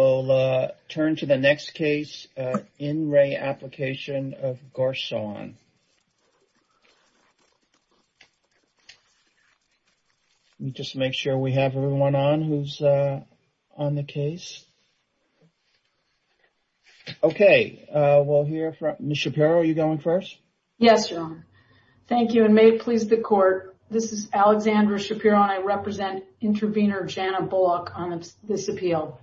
We'll turn to the next case, In Re. Application of Gorsoan. Let me just make sure we have everyone on who's on the case. Okay, we'll hear from, Ms. Shapiro, are you going first? Yes, Your Honor. Thank you, and may it please the Court, this is Alexandra Shapiro, and I represent intervener Shanna Bullock on this appeal.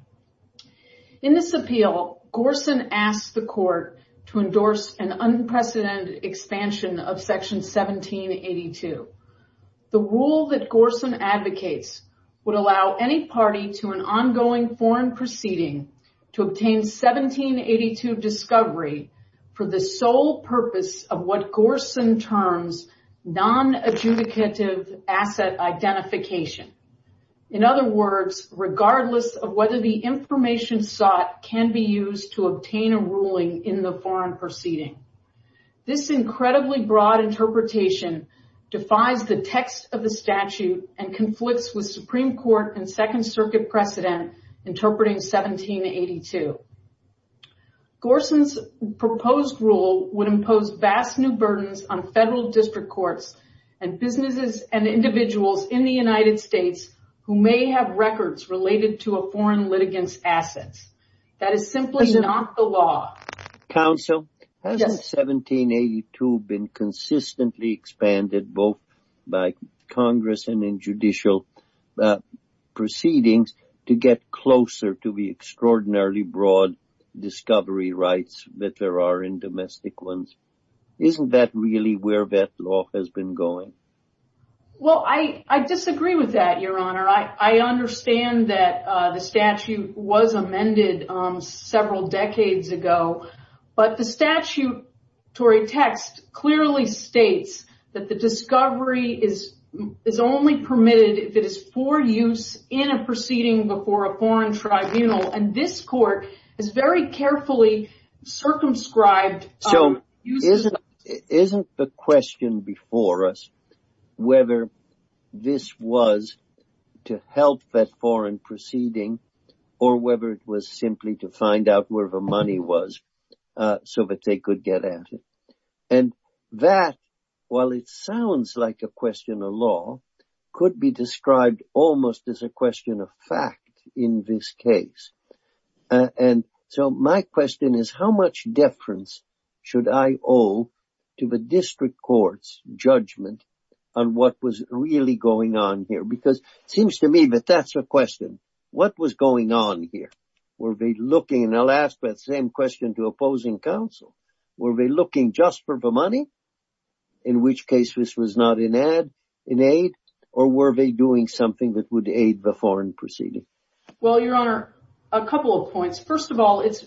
In this appeal, Gorsoan asked the Court to endorse an unprecedented expansion of Section 1782. The rule that Gorsoan advocates would allow any party to an ongoing foreign proceeding to obtain 1782 discovery for the sole purpose of what Gorsoan terms non-adjudicative asset identification. In other words, regardless of whether the information sought can be used to obtain a ruling in the foreign proceeding. This incredibly broad interpretation defies the text of the statute and conflicts with Supreme Court and Second Circuit precedent interpreting 1782. Gorsoan's proposed rule would impose vast new burdens on federal district courts and businesses and individuals in the United States who may have records related to a foreign litigant's assets. That is simply not the law. Counsel, hasn't 1782 been consistently expanded both by Congress and in judicial proceedings to get closer to the extraordinarily broad discovery rights that there are in domestic ones? Isn't that really where that law has been going? Well, I disagree with that, Your Honor. I understand that the statute was amended several decades ago. But the statutory text clearly states that the discovery is only permitted if it is for use in a proceeding before a foreign tribunal. And this court is very carefully circumscribed. So isn't the question before us whether this was to help that foreign proceeding or whether it was simply to find out where the money was so that they could get at it? And that, while it sounds like a question of law, could be described almost as a question of fact in this case. And so my question is, how much deference should I owe to the district court's judgment on what was really going on here? Because it seems to me that that's a question. What was going on here? Were they looking, and I'll ask that same question to opposing counsel, were they looking just for the money, in which case this was not in aid, or were they doing something that would aid the foreign proceeding? Well, Your Honor, a couple of points. First of all, it's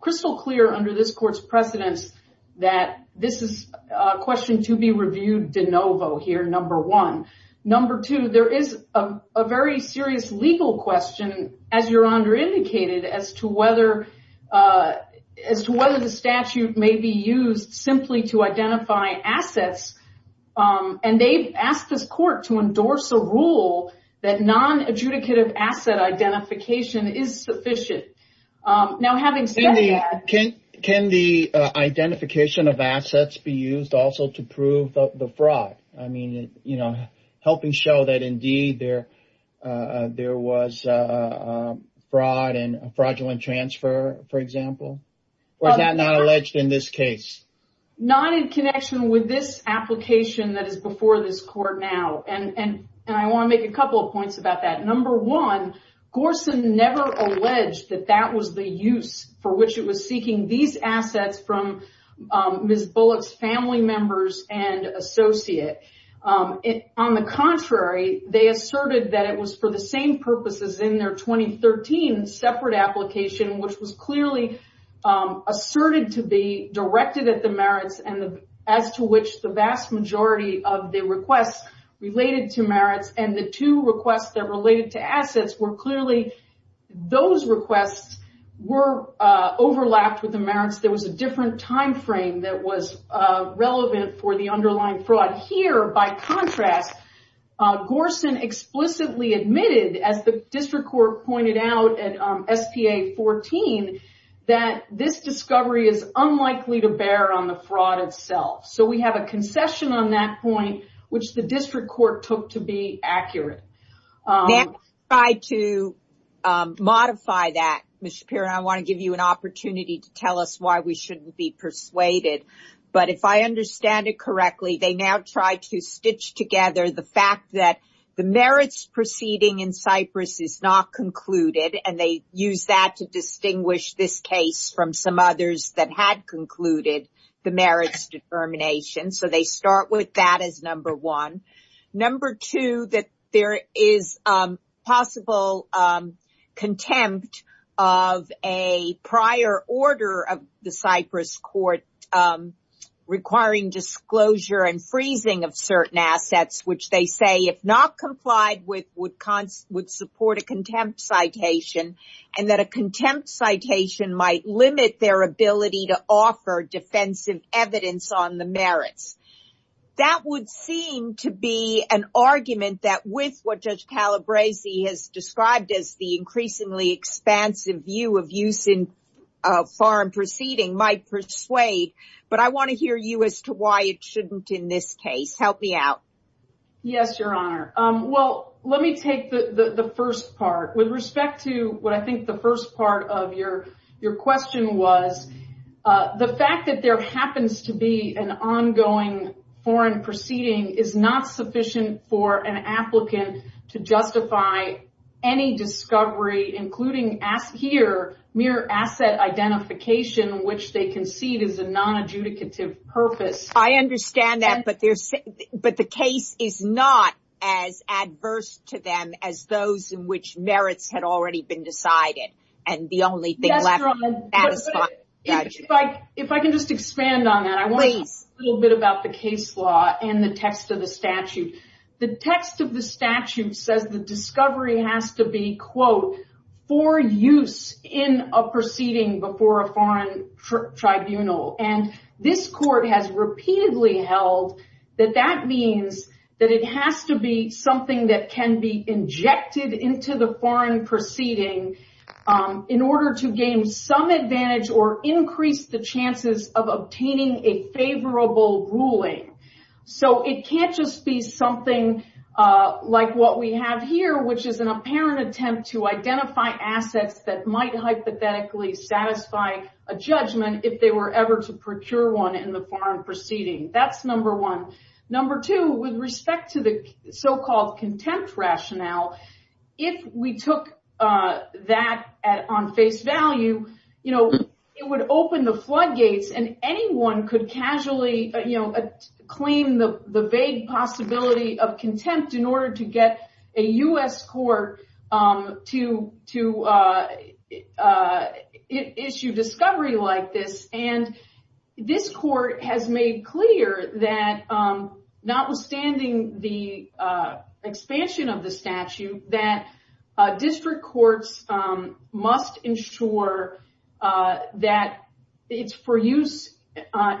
crystal clear under this court's precedence that this is a question to be reviewed de novo here, number one. Number two, there is a very serious legal question, as Your Honor indicated, as to whether the statute may be used simply to identify assets. And they've asked this court to endorse a rule that non-adjudicative asset identification is sufficient. Now, having said that- Can the identification of assets be used also to prove the fraud? I mean, you know, helping show that indeed there was fraud and fraudulent transfer, for example? Or is that not alleged in this case? Not in connection with this application that is before this court now. And I want to make a couple of points about that. Number one, Gorson never alleged that that was the use for which it was seeking these assets from Ms. Bullock's family members and associate. On the contrary, they asserted that it was for the same purposes in their 2013 separate application, which was clearly asserted to be directed at the merits, as to which the vast majority of the requests related to merits, and the two requests that related to assets were clearly- Those requests were overlapped with the merits. There was a different timeframe that was relevant for the underlying fraud. Here, by contrast, Gorson explicitly admitted, as the district court pointed out at SPA 14, that this discovery is unlikely to bear on the fraud itself. So we have a concession on that point, which the district court took to be accurate. They tried to modify that. Ms. Shapiro, I want to give you an opportunity to tell us why we shouldn't be persuaded. But if I understand it correctly, they now try to stitch together the fact that the merits proceeding in Cyprus is not concluded, and they use that to distinguish this case from some others that had concluded the merits determination. So they start with that as number one. Number two, that there is possible contempt of a prior order of the Cyprus court requiring disclosure and freezing of certain assets, which they say, if not complied with, would support a contempt citation, and that a contempt citation might limit their ability to offer defensive evidence on the merits. That would seem to be an argument that, with what Judge Calabresi has described as the increasingly expansive view of use in foreign proceeding, might persuade. But I want to hear you as to why it shouldn't in this case. Help me out. Yes, Your Honor. Well, let me take the first part. With respect to what I think the first part of your question was, the fact that there happens to be an ongoing foreign proceeding is not sufficient for an applicant to justify any discovery, including here mere asset identification, which they concede is a non-adjudicative purpose. I understand that, but the case is not as adverse to them as those in which merits had already been decided. And the only thing left is the satisfied judgment. If I can just expand on that. Please. I want to talk a little bit about the case law and the text of the statute. The text of the statute says the discovery has to be, quote, for use in a proceeding before a foreign tribunal. And this court has repeatedly held that that means that it has to be something that can be injected into the foreign proceeding in order to gain some advantage or increase the chances of obtaining a favorable ruling. So it can't just be something like what we have here, which is an apparent attempt to identify assets that might hypothetically satisfy a judgment if they were ever to procure one in the foreign proceeding. That's number one. Number two, with respect to the so-called contempt rationale, if we took that on face value, it would open the floodgates and anyone could casually claim the vague possibility of contempt in order to get a U.S. court to issue discovery like this. And this court has made clear that notwithstanding the expansion of the statute, that district courts must ensure that it's for use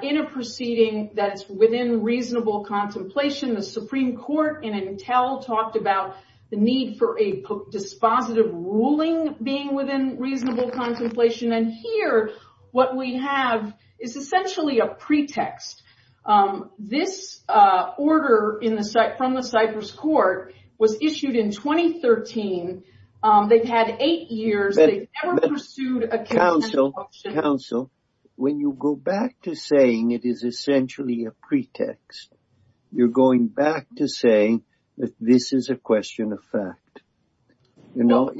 in a proceeding that's within reasonable contemplation. The Supreme Court in Entel talked about the need for a dispositive ruling being within reasonable contemplation. And here, what we have is essentially a pretext. This order from the Cyprus court was issued in 2013. They've had eight years. They've never pursued a contemplation. When you go back to saying it is essentially a pretext, you're going back to saying that this is a question of fact. You know,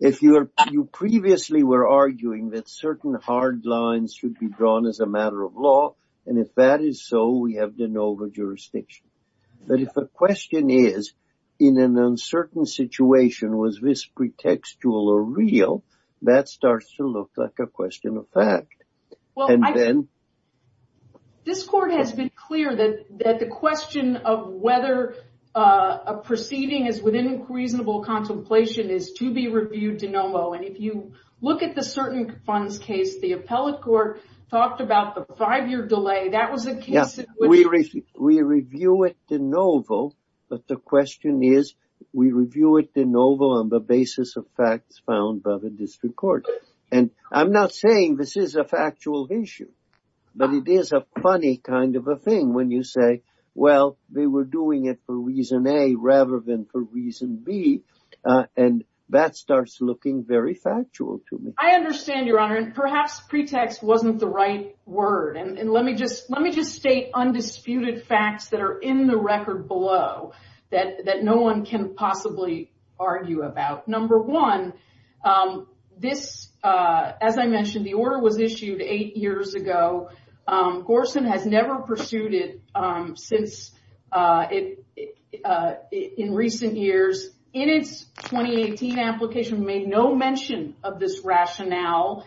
if you previously were arguing that certain hard lines should be drawn as a matter of law, and if that is so, we have de novo jurisdiction. But if the question is, in an uncertain situation, was this pretextual or real, that starts to look like a question of fact. This court has been clear that the question of whether a proceeding is within reasonable contemplation is to be reviewed de novo. And if you look at the certain funds case, the appellate court talked about the five-year delay. We review it de novo, but the question is, we review it de novo on the basis of facts found by the district court. And I'm not saying this is a factual issue, but it is a funny kind of a thing when you say, well, they were doing it for reason A rather than for reason B. And that starts looking very factual to me. I understand, Your Honor, and perhaps pretext wasn't the right word. And let me just state undisputed facts that are in the record below that no one can possibly argue about. Number one, this, as I mentioned, the order was issued eight years ago. Gorson has never pursued it since in recent years. In its 2018 application, made no mention of this rationale.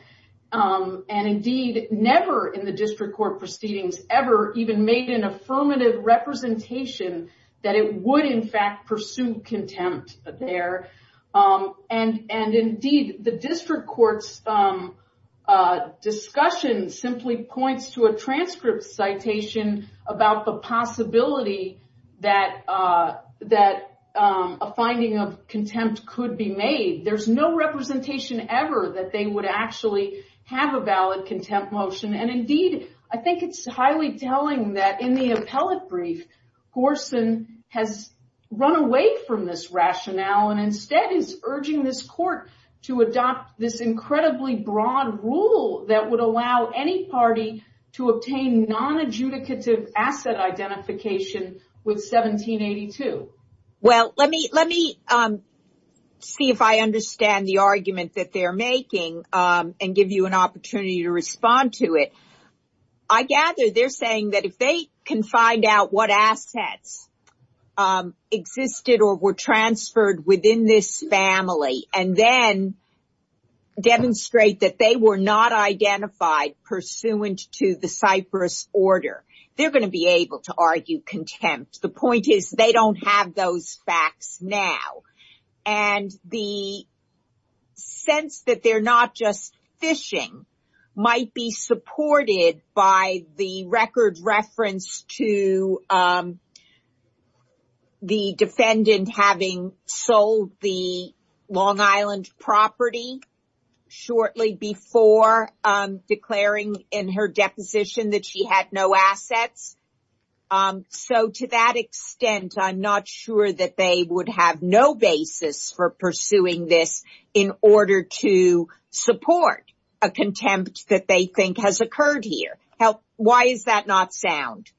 And, indeed, never in the district court proceedings ever even made an affirmative representation that it would, in fact, pursue contempt there. And, indeed, the district court's discussion simply points to a transcript citation about the possibility that a finding of contempt could be made. There's no representation ever that they would actually have a valid contempt motion. And, indeed, I think it's highly telling that in the appellate brief, Gorson has run away from this rationale and instead is urging this court to adopt this incredibly broad rule that would allow any party to obtain nonadjudicative asset identification with 1782. Well, let me see if I understand the argument that they're making and give you an opportunity to respond to it. I gather they're saying that if they can find out what assets existed or were transferred within this family and then demonstrate that they were not identified pursuant to the Cyprus order, they're going to be able to argue contempt. The point is they don't have those facts now. And the sense that they're not just fishing might be supported by the record reference to the defendant having sold the Long Island property shortly before declaring in her deposition that she had no assets. So, to that extent, I'm not sure that they would have no basis for pursuing this in order to support a contempt that they think has occurred here. Why is that not sound?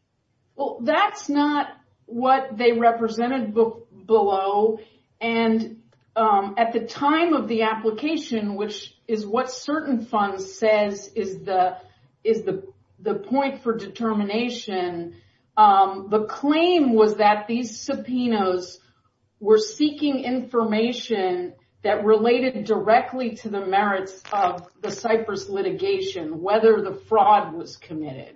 Well, that's not what they represented below. And at the time of the application, which is what certain funds says is the point for determination, the claim was that these subpoenas were seeking information that related directly to the merits of the Cyprus litigation, whether the fraud was committed.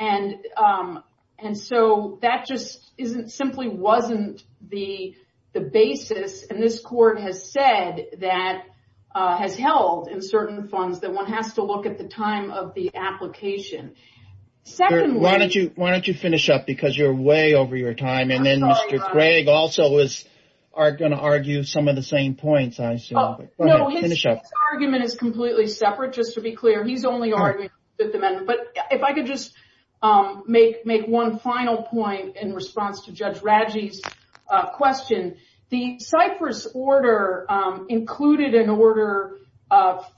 And so that just simply wasn't the basis. And this court has said that has held in certain funds that one has to look at the time of the application. Why don't you finish up? Because you're way over your time. And then Mr. Craig also is going to argue some of the same points. His argument is completely separate, just to be clear. But if I could just make one final point in response to Judge Radji's question. The Cyprus order included an order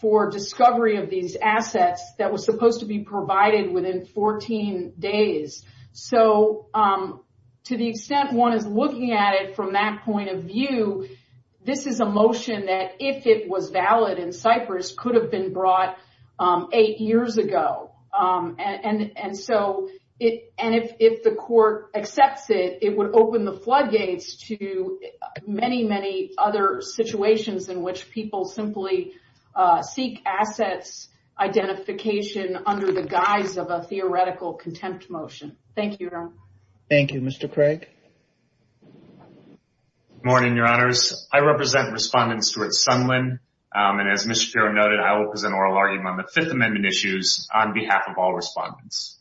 for discovery of these assets that was supposed to be provided within 14 days. So to the extent one is looking at it from that point of view, this is a motion that if it was valid in Cyprus could have been brought eight years ago. And so if the court accepts it, it would open the floodgates to many, many other situations in which people simply seek assets identification under the guise of a theoretical contempt motion. Thank you. Thank you, Mr. Craig. Good morning, Your Honors. I represent Respondent Stuart Sunlin. And as Ms. Shapiro noted, I will present oral argument on the Fifth Amendment issues on behalf of all respondents.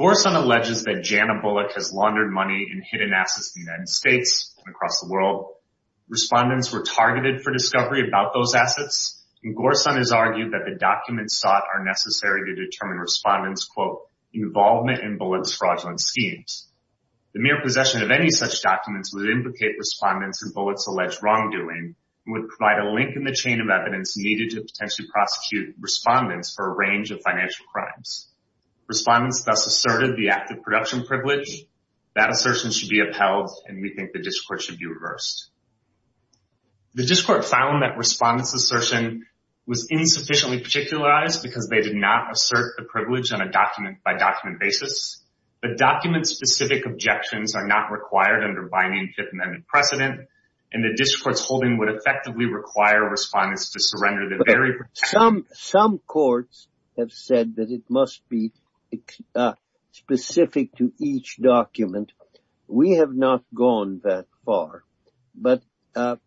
Gorsun alleges that Jana Bullock has laundered money in hidden assets in the United States and across the world. Respondents were targeted for discovery about those assets. And Gorsun has argued that the documents sought are necessary to determine respondents' quote, involvement in Bullock's fraudulent schemes. The mere possession of any such documents would implicate respondents in Bullock's alleged wrongdoing and would provide a link in the chain of evidence needed to potentially prosecute respondents for a range of financial crimes. Respondents thus asserted the act of production privilege. That assertion should be upheld, and we think the district court should be reversed. The district court found that respondents' assertion was insufficiently particularized because they did not assert the privilege on a document-by-document basis. But document-specific objections are not required under binding Fifth Amendment precedent. And the district court's holding would effectively require respondents to surrender the very- Some courts have said that it must be specific to each document. We have not gone that far. But that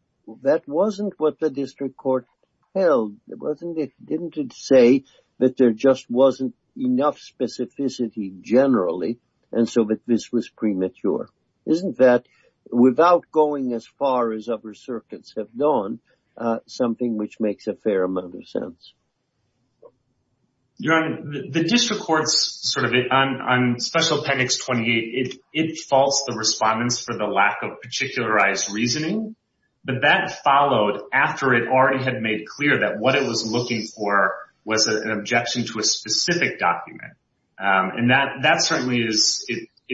wasn't what the district court held, wasn't it? Didn't it say that there just wasn't enough specificity generally and so that this was premature? Isn't that, without going as far as other circuits have gone, something which makes a fair amount of sense? Your Honor, the district court's sort of, on Special Appendix 28, it faults the respondents for the lack of particularized reasoning. But that followed after it already had made clear that what it was looking for was an objection to a specific document. And that certainly is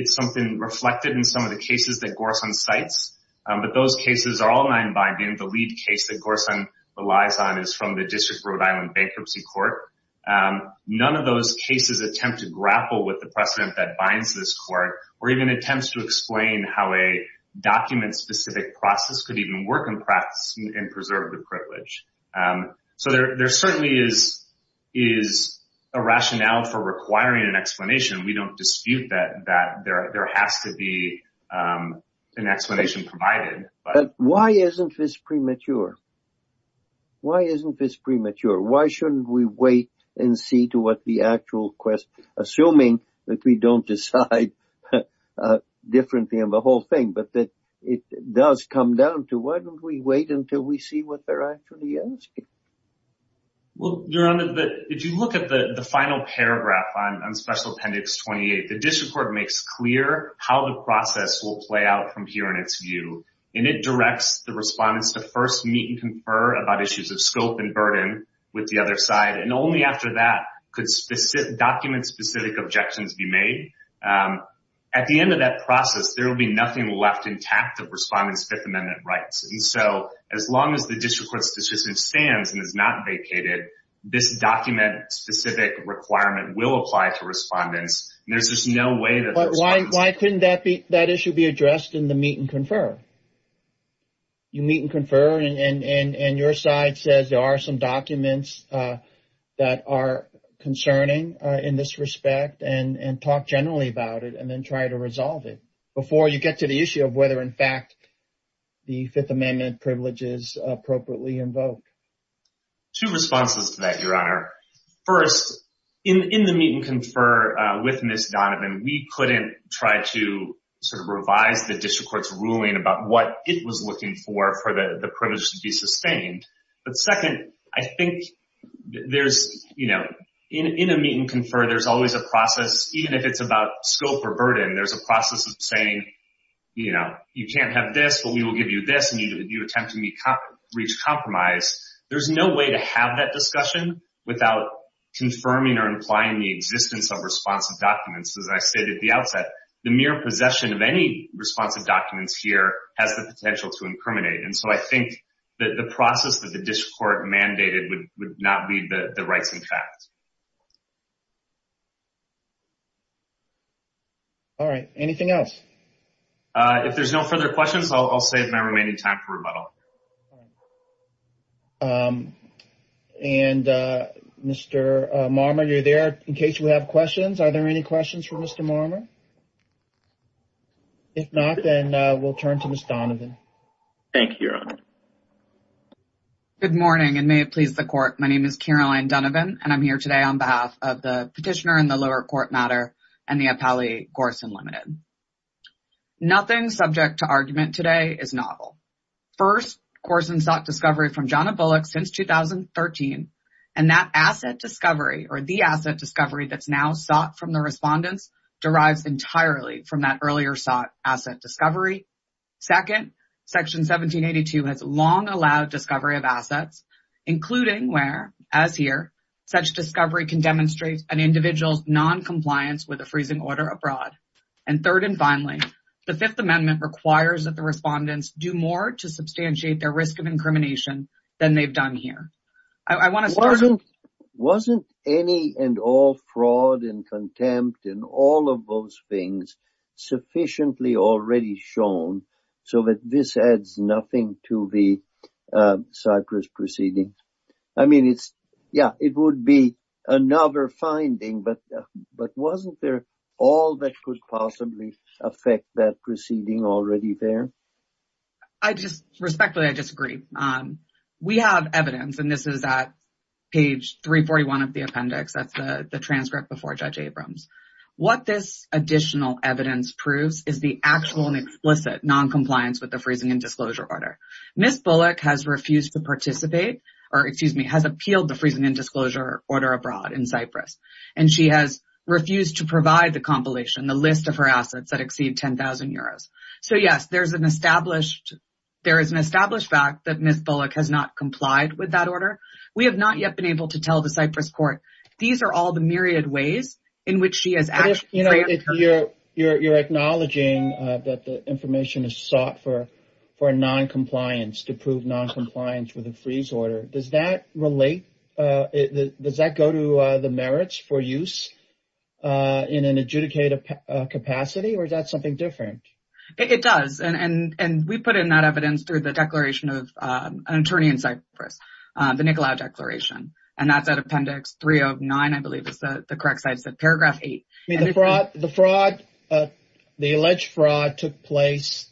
something reflected in some of the cases that Gorson cites. But those cases are all non-binding. The lead case that Gorson relies on is from the District of Rhode Island Bankruptcy Court. None of those cases attempt to grapple with the precedent that binds this court or even attempts to explain how a document-specific process could even work in practice and preserve the privilege. So there certainly is a rationale for requiring an explanation. We don't dispute that there has to be an explanation provided. But why isn't this premature? Why isn't this premature? Why shouldn't we wait and see to what the actual question, assuming that we don't decide differently on the whole thing, but that it does come down to why don't we wait until we see what they're actually asking? Well, Your Honor, if you look at the final paragraph on Special Appendix 28, the district court makes clear how the process will play out from here in its view. And it directs the respondents to first meet and confer about issues of scope and burden with the other side. And only after that could document-specific objections be made. At the end of that process, there will be nothing left intact of respondents' Fifth Amendment rights. And so as long as the district court's decision stands and is not vacated, this document-specific requirement will apply to respondents. And there's just no way that the respondents— But why couldn't that issue be addressed in the meet and confer? You meet and confer, and your side says there are some documents that are concerning in this respect and talk generally about it and then try to resolve it before you get to the issue of whether, in fact, the Fifth Amendment privileges appropriately invoke. Two responses to that, Your Honor. First, in the meet and confer with Ms. Donovan, we couldn't try to sort of revise the district court's ruling about what it was looking for for the privilege to be sustained. But second, I think there's, you know, in a meet and confer, there's always a process, even if it's about scope or burden, there's a process of saying, you know, you can't have this, but we will give you this, and you attempt to reach compromise. There's no way to have that discussion without confirming or implying the existence of responsive documents. As I stated at the outset, the mere possession of any responsive documents here has the potential to incriminate. And so I think that the process that the district court mandated would not be the rights in fact. All right. Anything else? If there's no further questions, I'll save my remaining time for rebuttal. And, Mr. Marmer, you're there in case you have questions. Are there any questions for Mr. Marmer? If not, then we'll turn to Ms. Donovan. Thank you, Your Honor. Good morning, and may it please the court. My name is Caroline Donovan, and I'm here today on behalf of the petitioner in the lower court matter and the appellee, Gorsan Limited. Nothing subject to argument today is novel. First, Gorsan sought discovery from Johnna Bullock since 2013, and that asset discovery or the asset discovery that's now sought from the respondents derives entirely from that earlier sought asset discovery. Second, Section 1782 has long allowed discovery of assets, including where, as here, such discovery can demonstrate an individual's noncompliance with a freezing order abroad. And third and finally, the Fifth Amendment requires that the respondents do more to substantiate their risk of incrimination than they've done here. Wasn't any and all fraud and contempt and all of those things sufficiently already shown so that this adds nothing to the Cyprus proceeding? I mean, yeah, it would be another finding, but wasn't there all that could possibly affect that proceeding already there? Respectfully, I disagree. We have evidence, and this is at page 341 of the appendix. That's the transcript before Judge Abrams. What this additional evidence proves is the actual and explicit noncompliance with the freezing and disclosure order. Ms. Bullock has refused to participate or, excuse me, has appealed the freezing and disclosure order abroad in Cyprus. And she has refused to provide the compilation, the list of her assets that exceed 10,000 euros. So, yes, there is an established fact that Ms. Bullock has not complied with that order. We have not yet been able to tell the Cyprus court. These are all the myriad ways in which she has acted. You're acknowledging that the information is sought for noncompliance to prove noncompliance with the freeze order. Does that relate? Does that go to the merits for use in an adjudicated capacity, or is that something different? It does. And we put in that evidence through the declaration of an attorney in Cyprus, the Nicolaou Declaration. And that's at Appendix 309, I believe is the correct size, paragraph 8. The fraud, the alleged fraud took place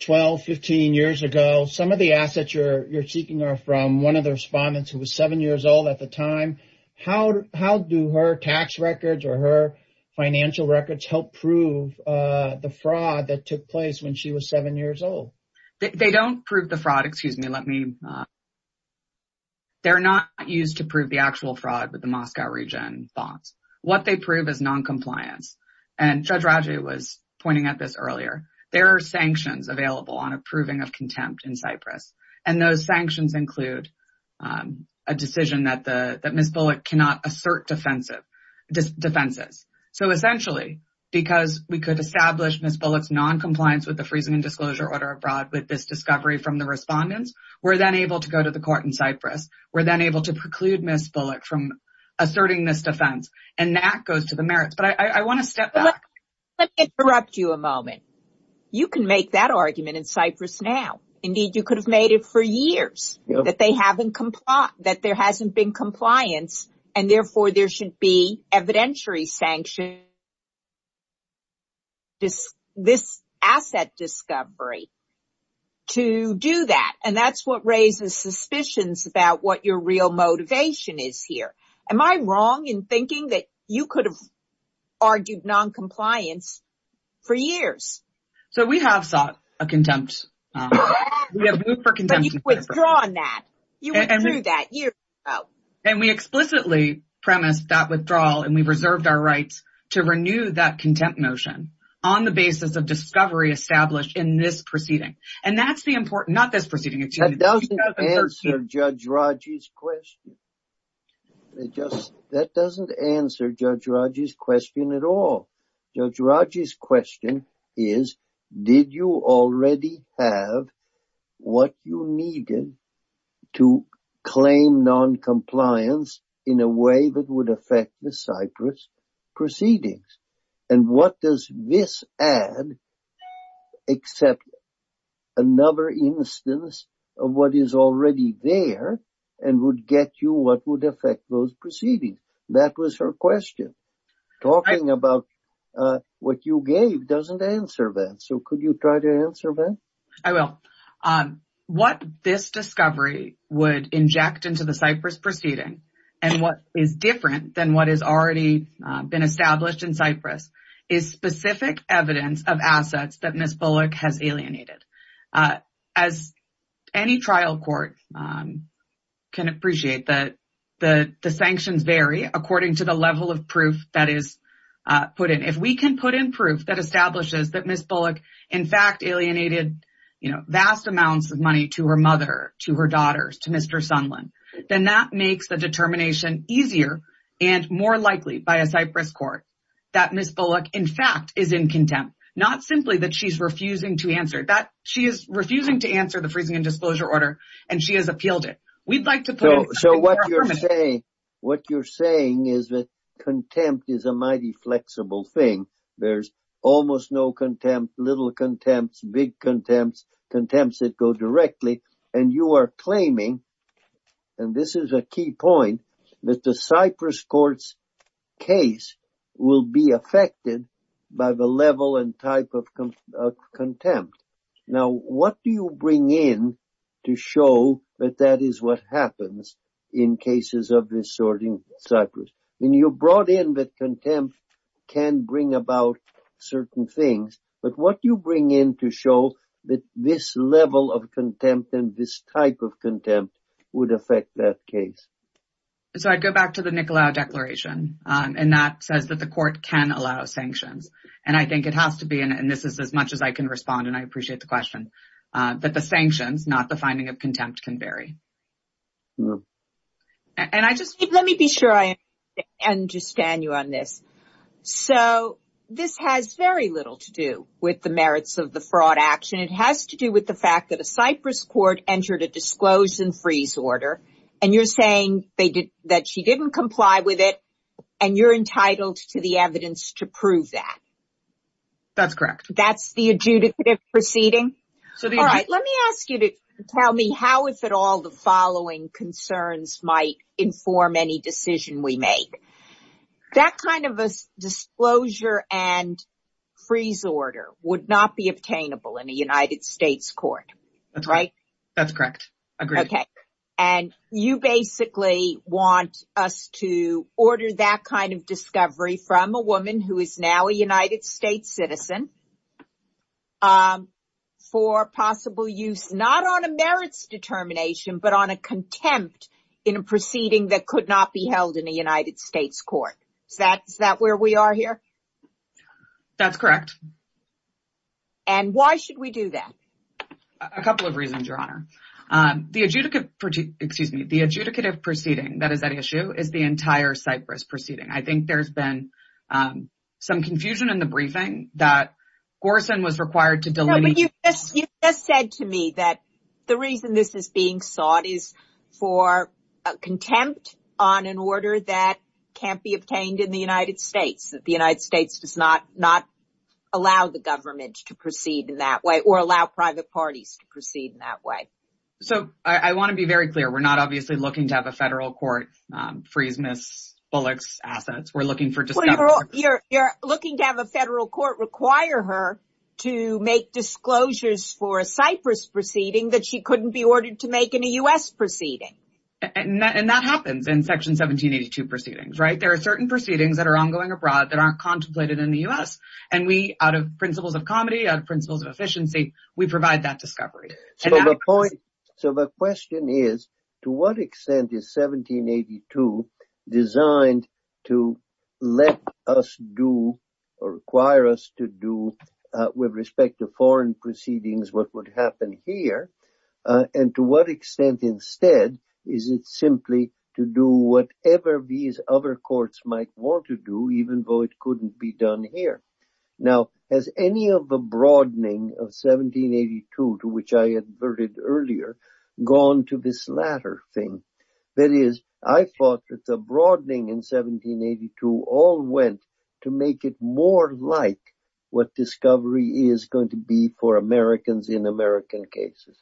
12, 15 years ago. Some of the assets you're seeking are from one of the respondents who was seven years old at the time. How do her tax records or her financial records help prove the fraud that took place when she was seven years old? They don't prove the fraud. Excuse me. They're not used to prove the actual fraud with the Moscow region bonds. What they prove is noncompliance. And Judge Raju was pointing at this earlier. There are sanctions available on approving of contempt in Cyprus. And those sanctions include a decision that Ms. Bullock cannot assert defenses. So, essentially, because we could establish Ms. Bullock's noncompliance with the freezing and disclosure order abroad with this discovery from the respondents, we're then able to go to the court in Cyprus. We're then able to preclude Ms. Bullock from asserting this defense. And that goes to the merits. But I want to step back. Let me interrupt you a moment. You can make that argument in Cyprus now. Indeed, you could have made it for years that there hasn't been compliance. And, therefore, there should be evidentiary sanctions for this asset discovery to do that. And that's what raises suspicions about what your real motivation is here. Am I wrong in thinking that you could have argued noncompliance for years? So, we have sought a contempt. We have moved for contempt in Cyprus. But you've withdrawn that. You withdrew that. And we explicitly premised that withdrawal, and we've reserved our rights to renew that contempt motion on the basis of discovery established in this proceeding. And that's the important – not this proceeding. That doesn't answer Judge Raju's question. That doesn't answer Judge Raju's question at all. Judge Raju's question is, did you already have what you needed to claim noncompliance in a way that would affect the Cyprus proceedings? And what does this add except another instance of what is already there and would get you what would affect those proceedings? That was her question. Talking about what you gave doesn't answer that. So, could you try to answer that? I will. What this discovery would inject into the Cyprus proceeding and what is different than what has already been established in Cyprus is specific evidence of assets that Ms. Bullock has alienated. As any trial court can appreciate, the sanctions vary according to the level of proof that is put in. If we can put in proof that establishes that Ms. Bullock, in fact, alienated vast amounts of money to her mother, to her daughters, to Mr. Sundlin, then that makes the determination easier and more likely by a Cyprus court that Ms. Bullock, in fact, is in contempt. Not simply that she's refusing to answer. She is refusing to answer the freezing and disclosure order and she has appealed it. We'd like to put in. So, what you're saying is that contempt is a mighty flexible thing. There's almost no contempt, little contempt, big contempt, contempt that go directly. And you are claiming, and this is a key point, that the Cyprus court's case will be affected by the level and type of contempt. Now, what do you bring in to show that that is what happens in cases of this sorting Cyprus? When you brought in that contempt can bring about certain things, but what do you bring in to show that this level of contempt and this type of contempt would affect that case? So, I'd go back to the Nicolaou Declaration, and that says that the court can allow sanctions. And I think it has to be, and this is as much as I can respond, and I appreciate the question, that the sanctions, not the finding of contempt, can vary. Let me be sure I understand you on this. So, this has very little to do with the merits of the fraud action. It has to do with the fact that a Cyprus court entered a disclosure and freeze order, and you're saying that she didn't comply with it, and you're entitled to the evidence to prove that. That's correct. That's the adjudicative proceeding? Let me ask you to tell me how, if at all, the following concerns might inform any decision we make. That kind of a disclosure and freeze order would not be obtainable in a United States court, right? That's correct. Agreed. And you basically want us to order that kind of discovery from a woman who is now a United States citizen for possible use, not on a merits determination, but on a contempt in a proceeding that could not be held in a United States court. Is that where we are here? That's correct. And why should we do that? A couple of reasons, Your Honor. The adjudicative proceeding, that is at issue, is the entire Cyprus proceeding. I think there's been some confusion in the briefing that Gorsan was required to delineate. You just said to me that the reason this is being sought is for contempt on an order that can't be obtained in the United States, that the United States does not allow the government to proceed in that way or allow private parties to proceed in that way. So, I want to be very clear. We're not obviously looking to have a federal court freeze Ms. Bullock's assets. You're looking to have a federal court require her to make disclosures for a Cyprus proceeding that she couldn't be ordered to make in a U.S. proceeding. And that happens in Section 1782 proceedings, right? There are certain proceedings that are ongoing abroad that aren't contemplated in the U.S. And we, out of principles of comedy, out of principles of efficiency, we provide that discovery. So, the question is, to what extent is 1782 designed to let us do or require us to do, with respect to foreign proceedings, what would happen here? And to what extent instead is it simply to do whatever these other courts might want to do, even though it couldn't be done here? Now, has any of the broadening of 1782, to which I adverted earlier, gone to this latter thing? That is, I thought that the broadening in 1782 all went to make it more like what discovery is going to be for Americans in American cases.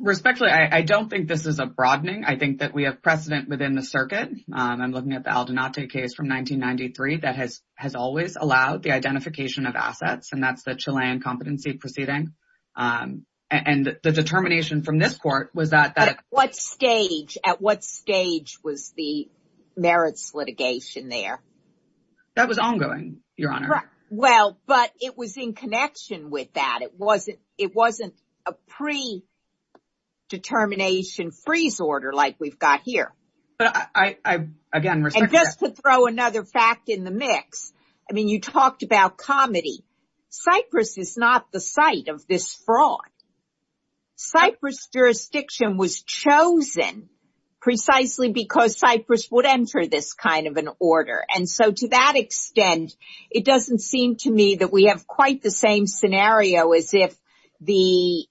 Respectfully, I don't think this is a broadening. I think that we have precedent within the circuit. I'm looking at the Aldenate case from 1993 that has always allowed the identification of assets, and that's the Chilean competency proceeding. And the determination from this court was that... But at what stage, at what stage was the merits litigation there? That was ongoing, Your Honor. Well, but it was in connection with that. It wasn't a predetermination freeze order like we've got here. And just to throw another fact in the mix, I mean, you talked about comedy. Cyprus is not the site of this fraud. Cyprus jurisdiction was chosen precisely because Cyprus would enter this kind of an order. And so to that extent, it doesn't seem to me that we have quite the same scenario as if the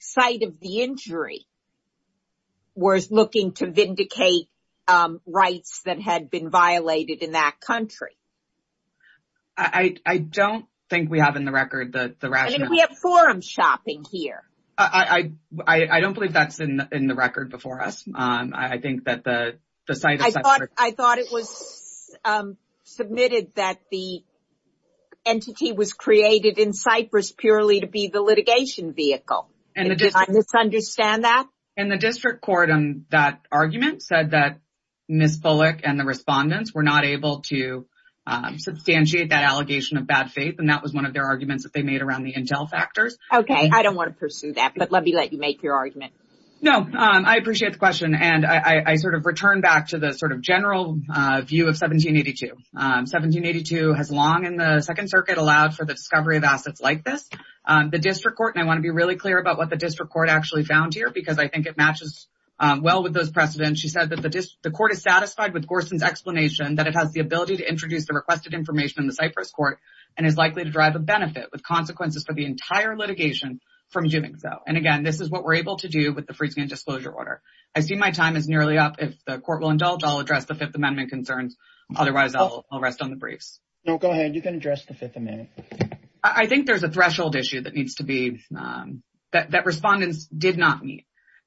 site of the injury was looking to vindicate rights that had been violated in that country. I don't think we have in the record the rationale. I mean, we have forum shopping here. I don't believe that's in the record before us. I think that the site of Cyprus... I thought it was submitted that the entity was created in Cyprus purely to be the litigation vehicle. Did I misunderstand that? In the district court, that argument said that Ms. Bullock and the respondents were not able to substantiate that allegation of bad faith. And that was one of their arguments that they made around the intel factors. Okay, I don't want to pursue that, but let me let you make your argument. No, I appreciate the question. And I sort of return back to the sort of general view of 1782. 1782 has long in the Second Circuit allowed for the discovery of assets like this. The district court, and I want to be really clear about what the district court actually found here because I think it matches well with those precedents. She said that the court is satisfied with Gorson's explanation that it has the ability to introduce the requested information in the Cyprus court and is likely to drive a benefit with consequences for the entire litigation from doing so. And again, this is what we're able to do with the freezing and disclosure order. I see my time is nearly up. If the court will indulge, I'll address the Fifth Amendment concerns. Otherwise, I'll rest on the briefs. No, go ahead. You can address the Fifth Amendment. I think there's a threshold issue that needs to be that respondents did not meet,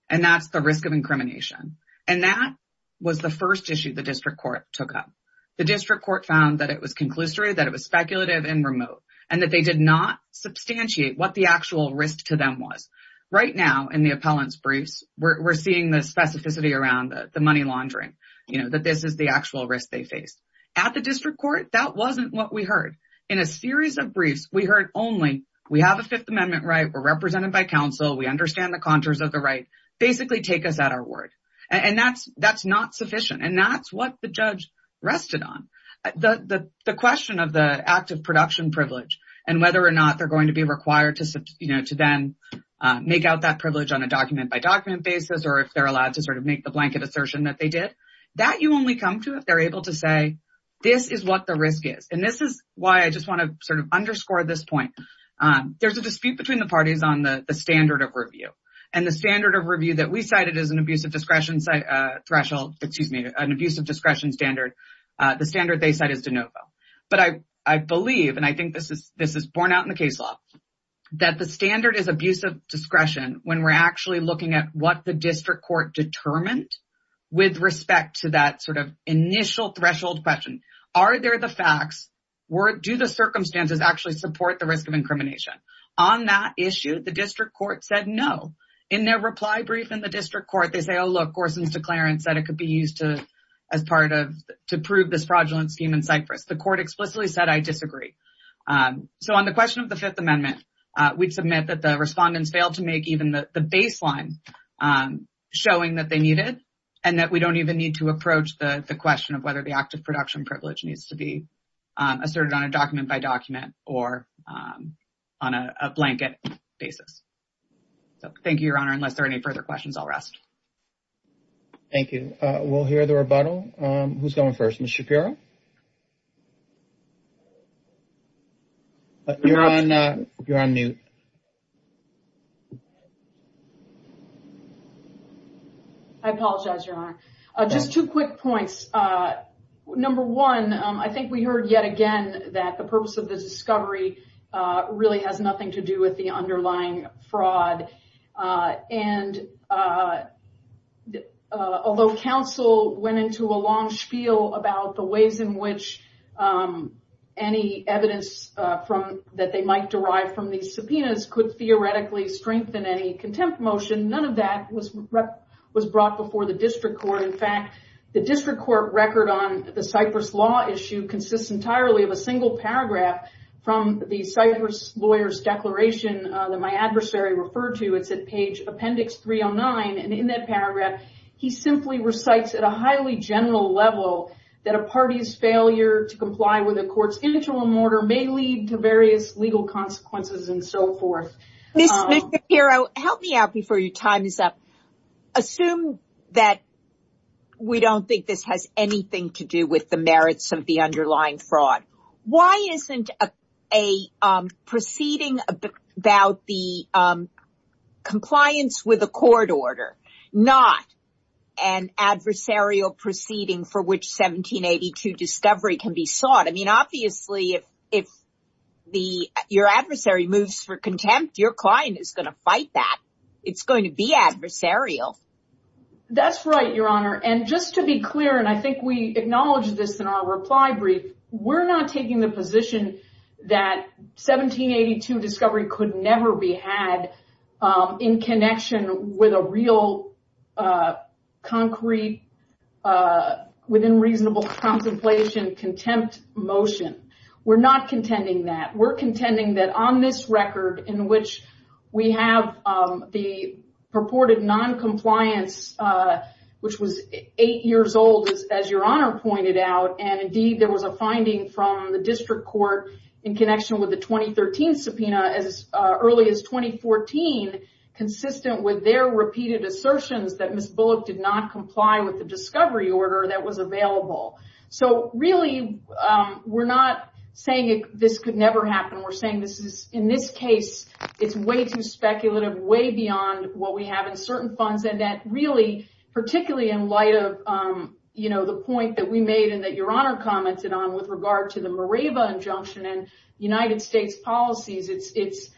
and that's the risk of incrimination. And that was the first issue the district court took up. The district court found that it was conclusory, that it was speculative and remote, and that they did not substantiate what the actual risk to them was. Right now, in the appellant's briefs, we're seeing the specificity around the money laundering, you know, that this is the actual risk they faced. At the district court, that wasn't what we heard. In a series of briefs, we heard only, we have a Fifth Amendment right, we're represented by counsel, we understand the contours of the right, basically take us at our word. And that's not sufficient, and that's what the judge rested on. The question of the act of production privilege and whether or not they're going to be required to, you know, to then make out that privilege on a document-by-document basis, or if they're allowed to sort of make the blanket assertion that they did, that you only come to if they're able to say, this is what the risk is. And this is why I just want to sort of underscore this point. There's a dispute between the parties on the standard of review. And the standard of review that we cited as an abuse of discretion threshold, excuse me, an abuse of discretion standard, the standard they cite is de novo. But I believe, and I think this is borne out in the case law, that the standard is abuse of discretion when we're actually looking at what the district court determined with respect to that sort of initial threshold question. Are there the facts? Do the circumstances actually support the risk of incrimination? On that issue, the district court said no. In their reply brief in the district court, they say, oh, look, Gorson's declarant said it could be used to, as part of, to prove this fraudulent scheme in Cyprus. The court explicitly said, I disagree. So on the question of the Fifth Amendment, we'd submit that the respondents failed to make even the baseline showing that they needed, and that we don't even need to approach the question of whether the act of production privilege needs to be asserted on a document by document or on a blanket basis. Thank you, Your Honor. Unless there are any further questions, I'll rest. Thank you. We'll hear the rebuttal. Who's going first? Ms. Shapiro? You're on mute. I apologize, Your Honor. Just two quick points. Number one, I think we heard yet again that the purpose of the discovery really has nothing to do with the underlying fraud. And although counsel went into a long spiel about the ways in which any evidence that they might derive from these subpoenas could theoretically strengthen any contempt motion, none of that was brought before the district court. In fact, the district court record on the Cyprus law issue consists entirely of a single paragraph from the Cyprus lawyer's declaration that my adversary referred to. It's at page appendix 309. And in that paragraph, he simply recites at a highly general level that a party's failure to comply with a court's interim order may lead to various legal consequences and so forth. Ms. Shapiro, help me out before your time is up. Assume that we don't think this has anything to do with the merits of the underlying fraud. Why isn't a proceeding about the compliance with a court order not an adversarial proceeding for which 1782 discovery can be sought? I mean, obviously, if your adversary moves for contempt, your client is going to fight that. It's going to be adversarial. That's right, Your Honor. And just to be clear, and I think we acknowledge this in our reply brief, we're not taking the position that 1782 discovery could never be had in connection with a real concrete, within reasonable contemplation, contempt motion. We're not contending that. We're contending that on this record, in which we have the purported noncompliance, which was eight years old, as Your Honor pointed out, and indeed there was a finding from the district court in connection with the 2013 subpoena as early as 2014, consistent with their repeated assertions that Ms. Bullock did not comply with the discovery order that was available. So really, we're not saying this could never happen. We're saying in this case, it's way too speculative, way beyond what we have in certain funds, and that really, particularly in light of the point that we made and that Your Honor commented on with regard to the Mareva injunction and United States policies, it's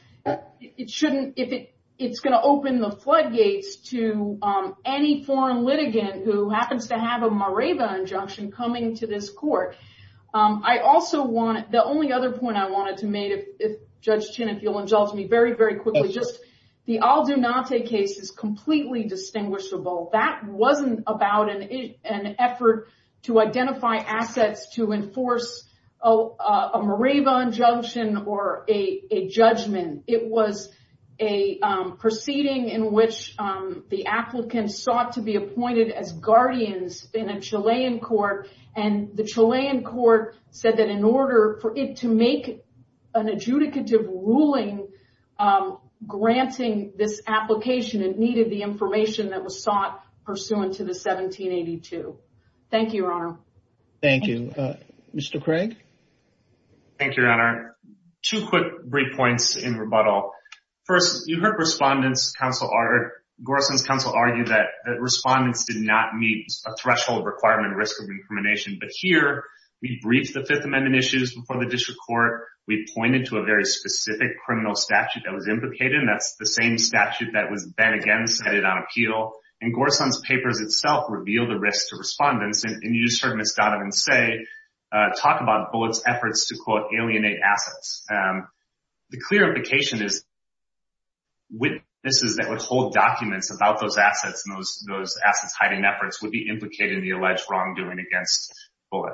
going to open the floodgates to any foreign litigant who happens to have a Mareva injunction coming to this court. The only other point I wanted to make, Judge Chin, if you'll indulge me very, very quickly, just the Aldunate case is completely distinguishable. That wasn't about an effort to identify assets to enforce a Mareva injunction or a judgment. It was a proceeding in which the applicant sought to be appointed as guardians in a Chilean court, and the Chilean court said that in order for it to make an adjudicative ruling granting this application, it needed the information that was sought pursuant to the 1782. Thank you, Your Honor. Thank you. Thank you, Your Honor. Two quick break points in rebuttal. First, you heard Gorsun's counsel argue that respondents did not meet a threshold requirement risk of incrimination, but here we briefed the Fifth Amendment issues before the district court. We pointed to a very specific criminal statute that was implicated, and that's the same statute that was then again cited on appeal, and Gorsun's papers itself reveal the risk to respondents. And you just heard Ms. Donovan say, talk about Bullitt's efforts to, quote, alienate assets. The clear implication is witnesses that would hold documents about those assets and those assets hiding efforts would be implicated in the alleged wrongdoing against Bullitt.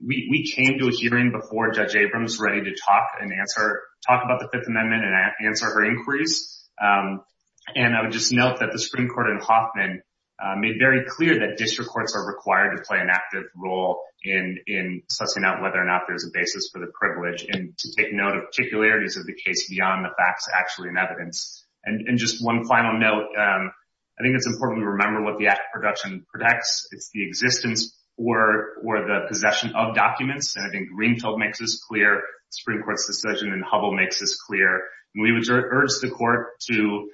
We came to a hearing before Judge Abrams ready to talk and answer, talk about the Fifth Amendment and answer her inquiries. And I would just note that the Supreme Court in Hoffman made very clear that district courts are required to play an active role in sussing out whether or not there's a basis for the privilege and to take note of particularities of the case beyond the facts actually in evidence. And just one final note, I think it's important to remember what the act of production protects. It's the existence or the possession of documents. And I think Greenfield makes this clear, the Supreme Court's decision, and Hubbell makes this clear. We would urge the court to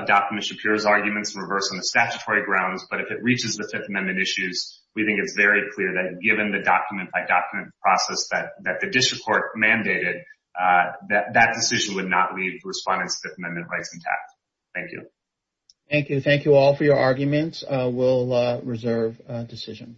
adopt Ms. Shapiro's arguments in reverse on the statutory grounds. But if it reaches the Fifth Amendment issues, we think it's very clear that given the document-by-document process that the district court mandated, that that decision would not leave respondents' Fifth Amendment rights intact. Thank you. Thank you. Thank you all for your arguments. We'll reserve decision.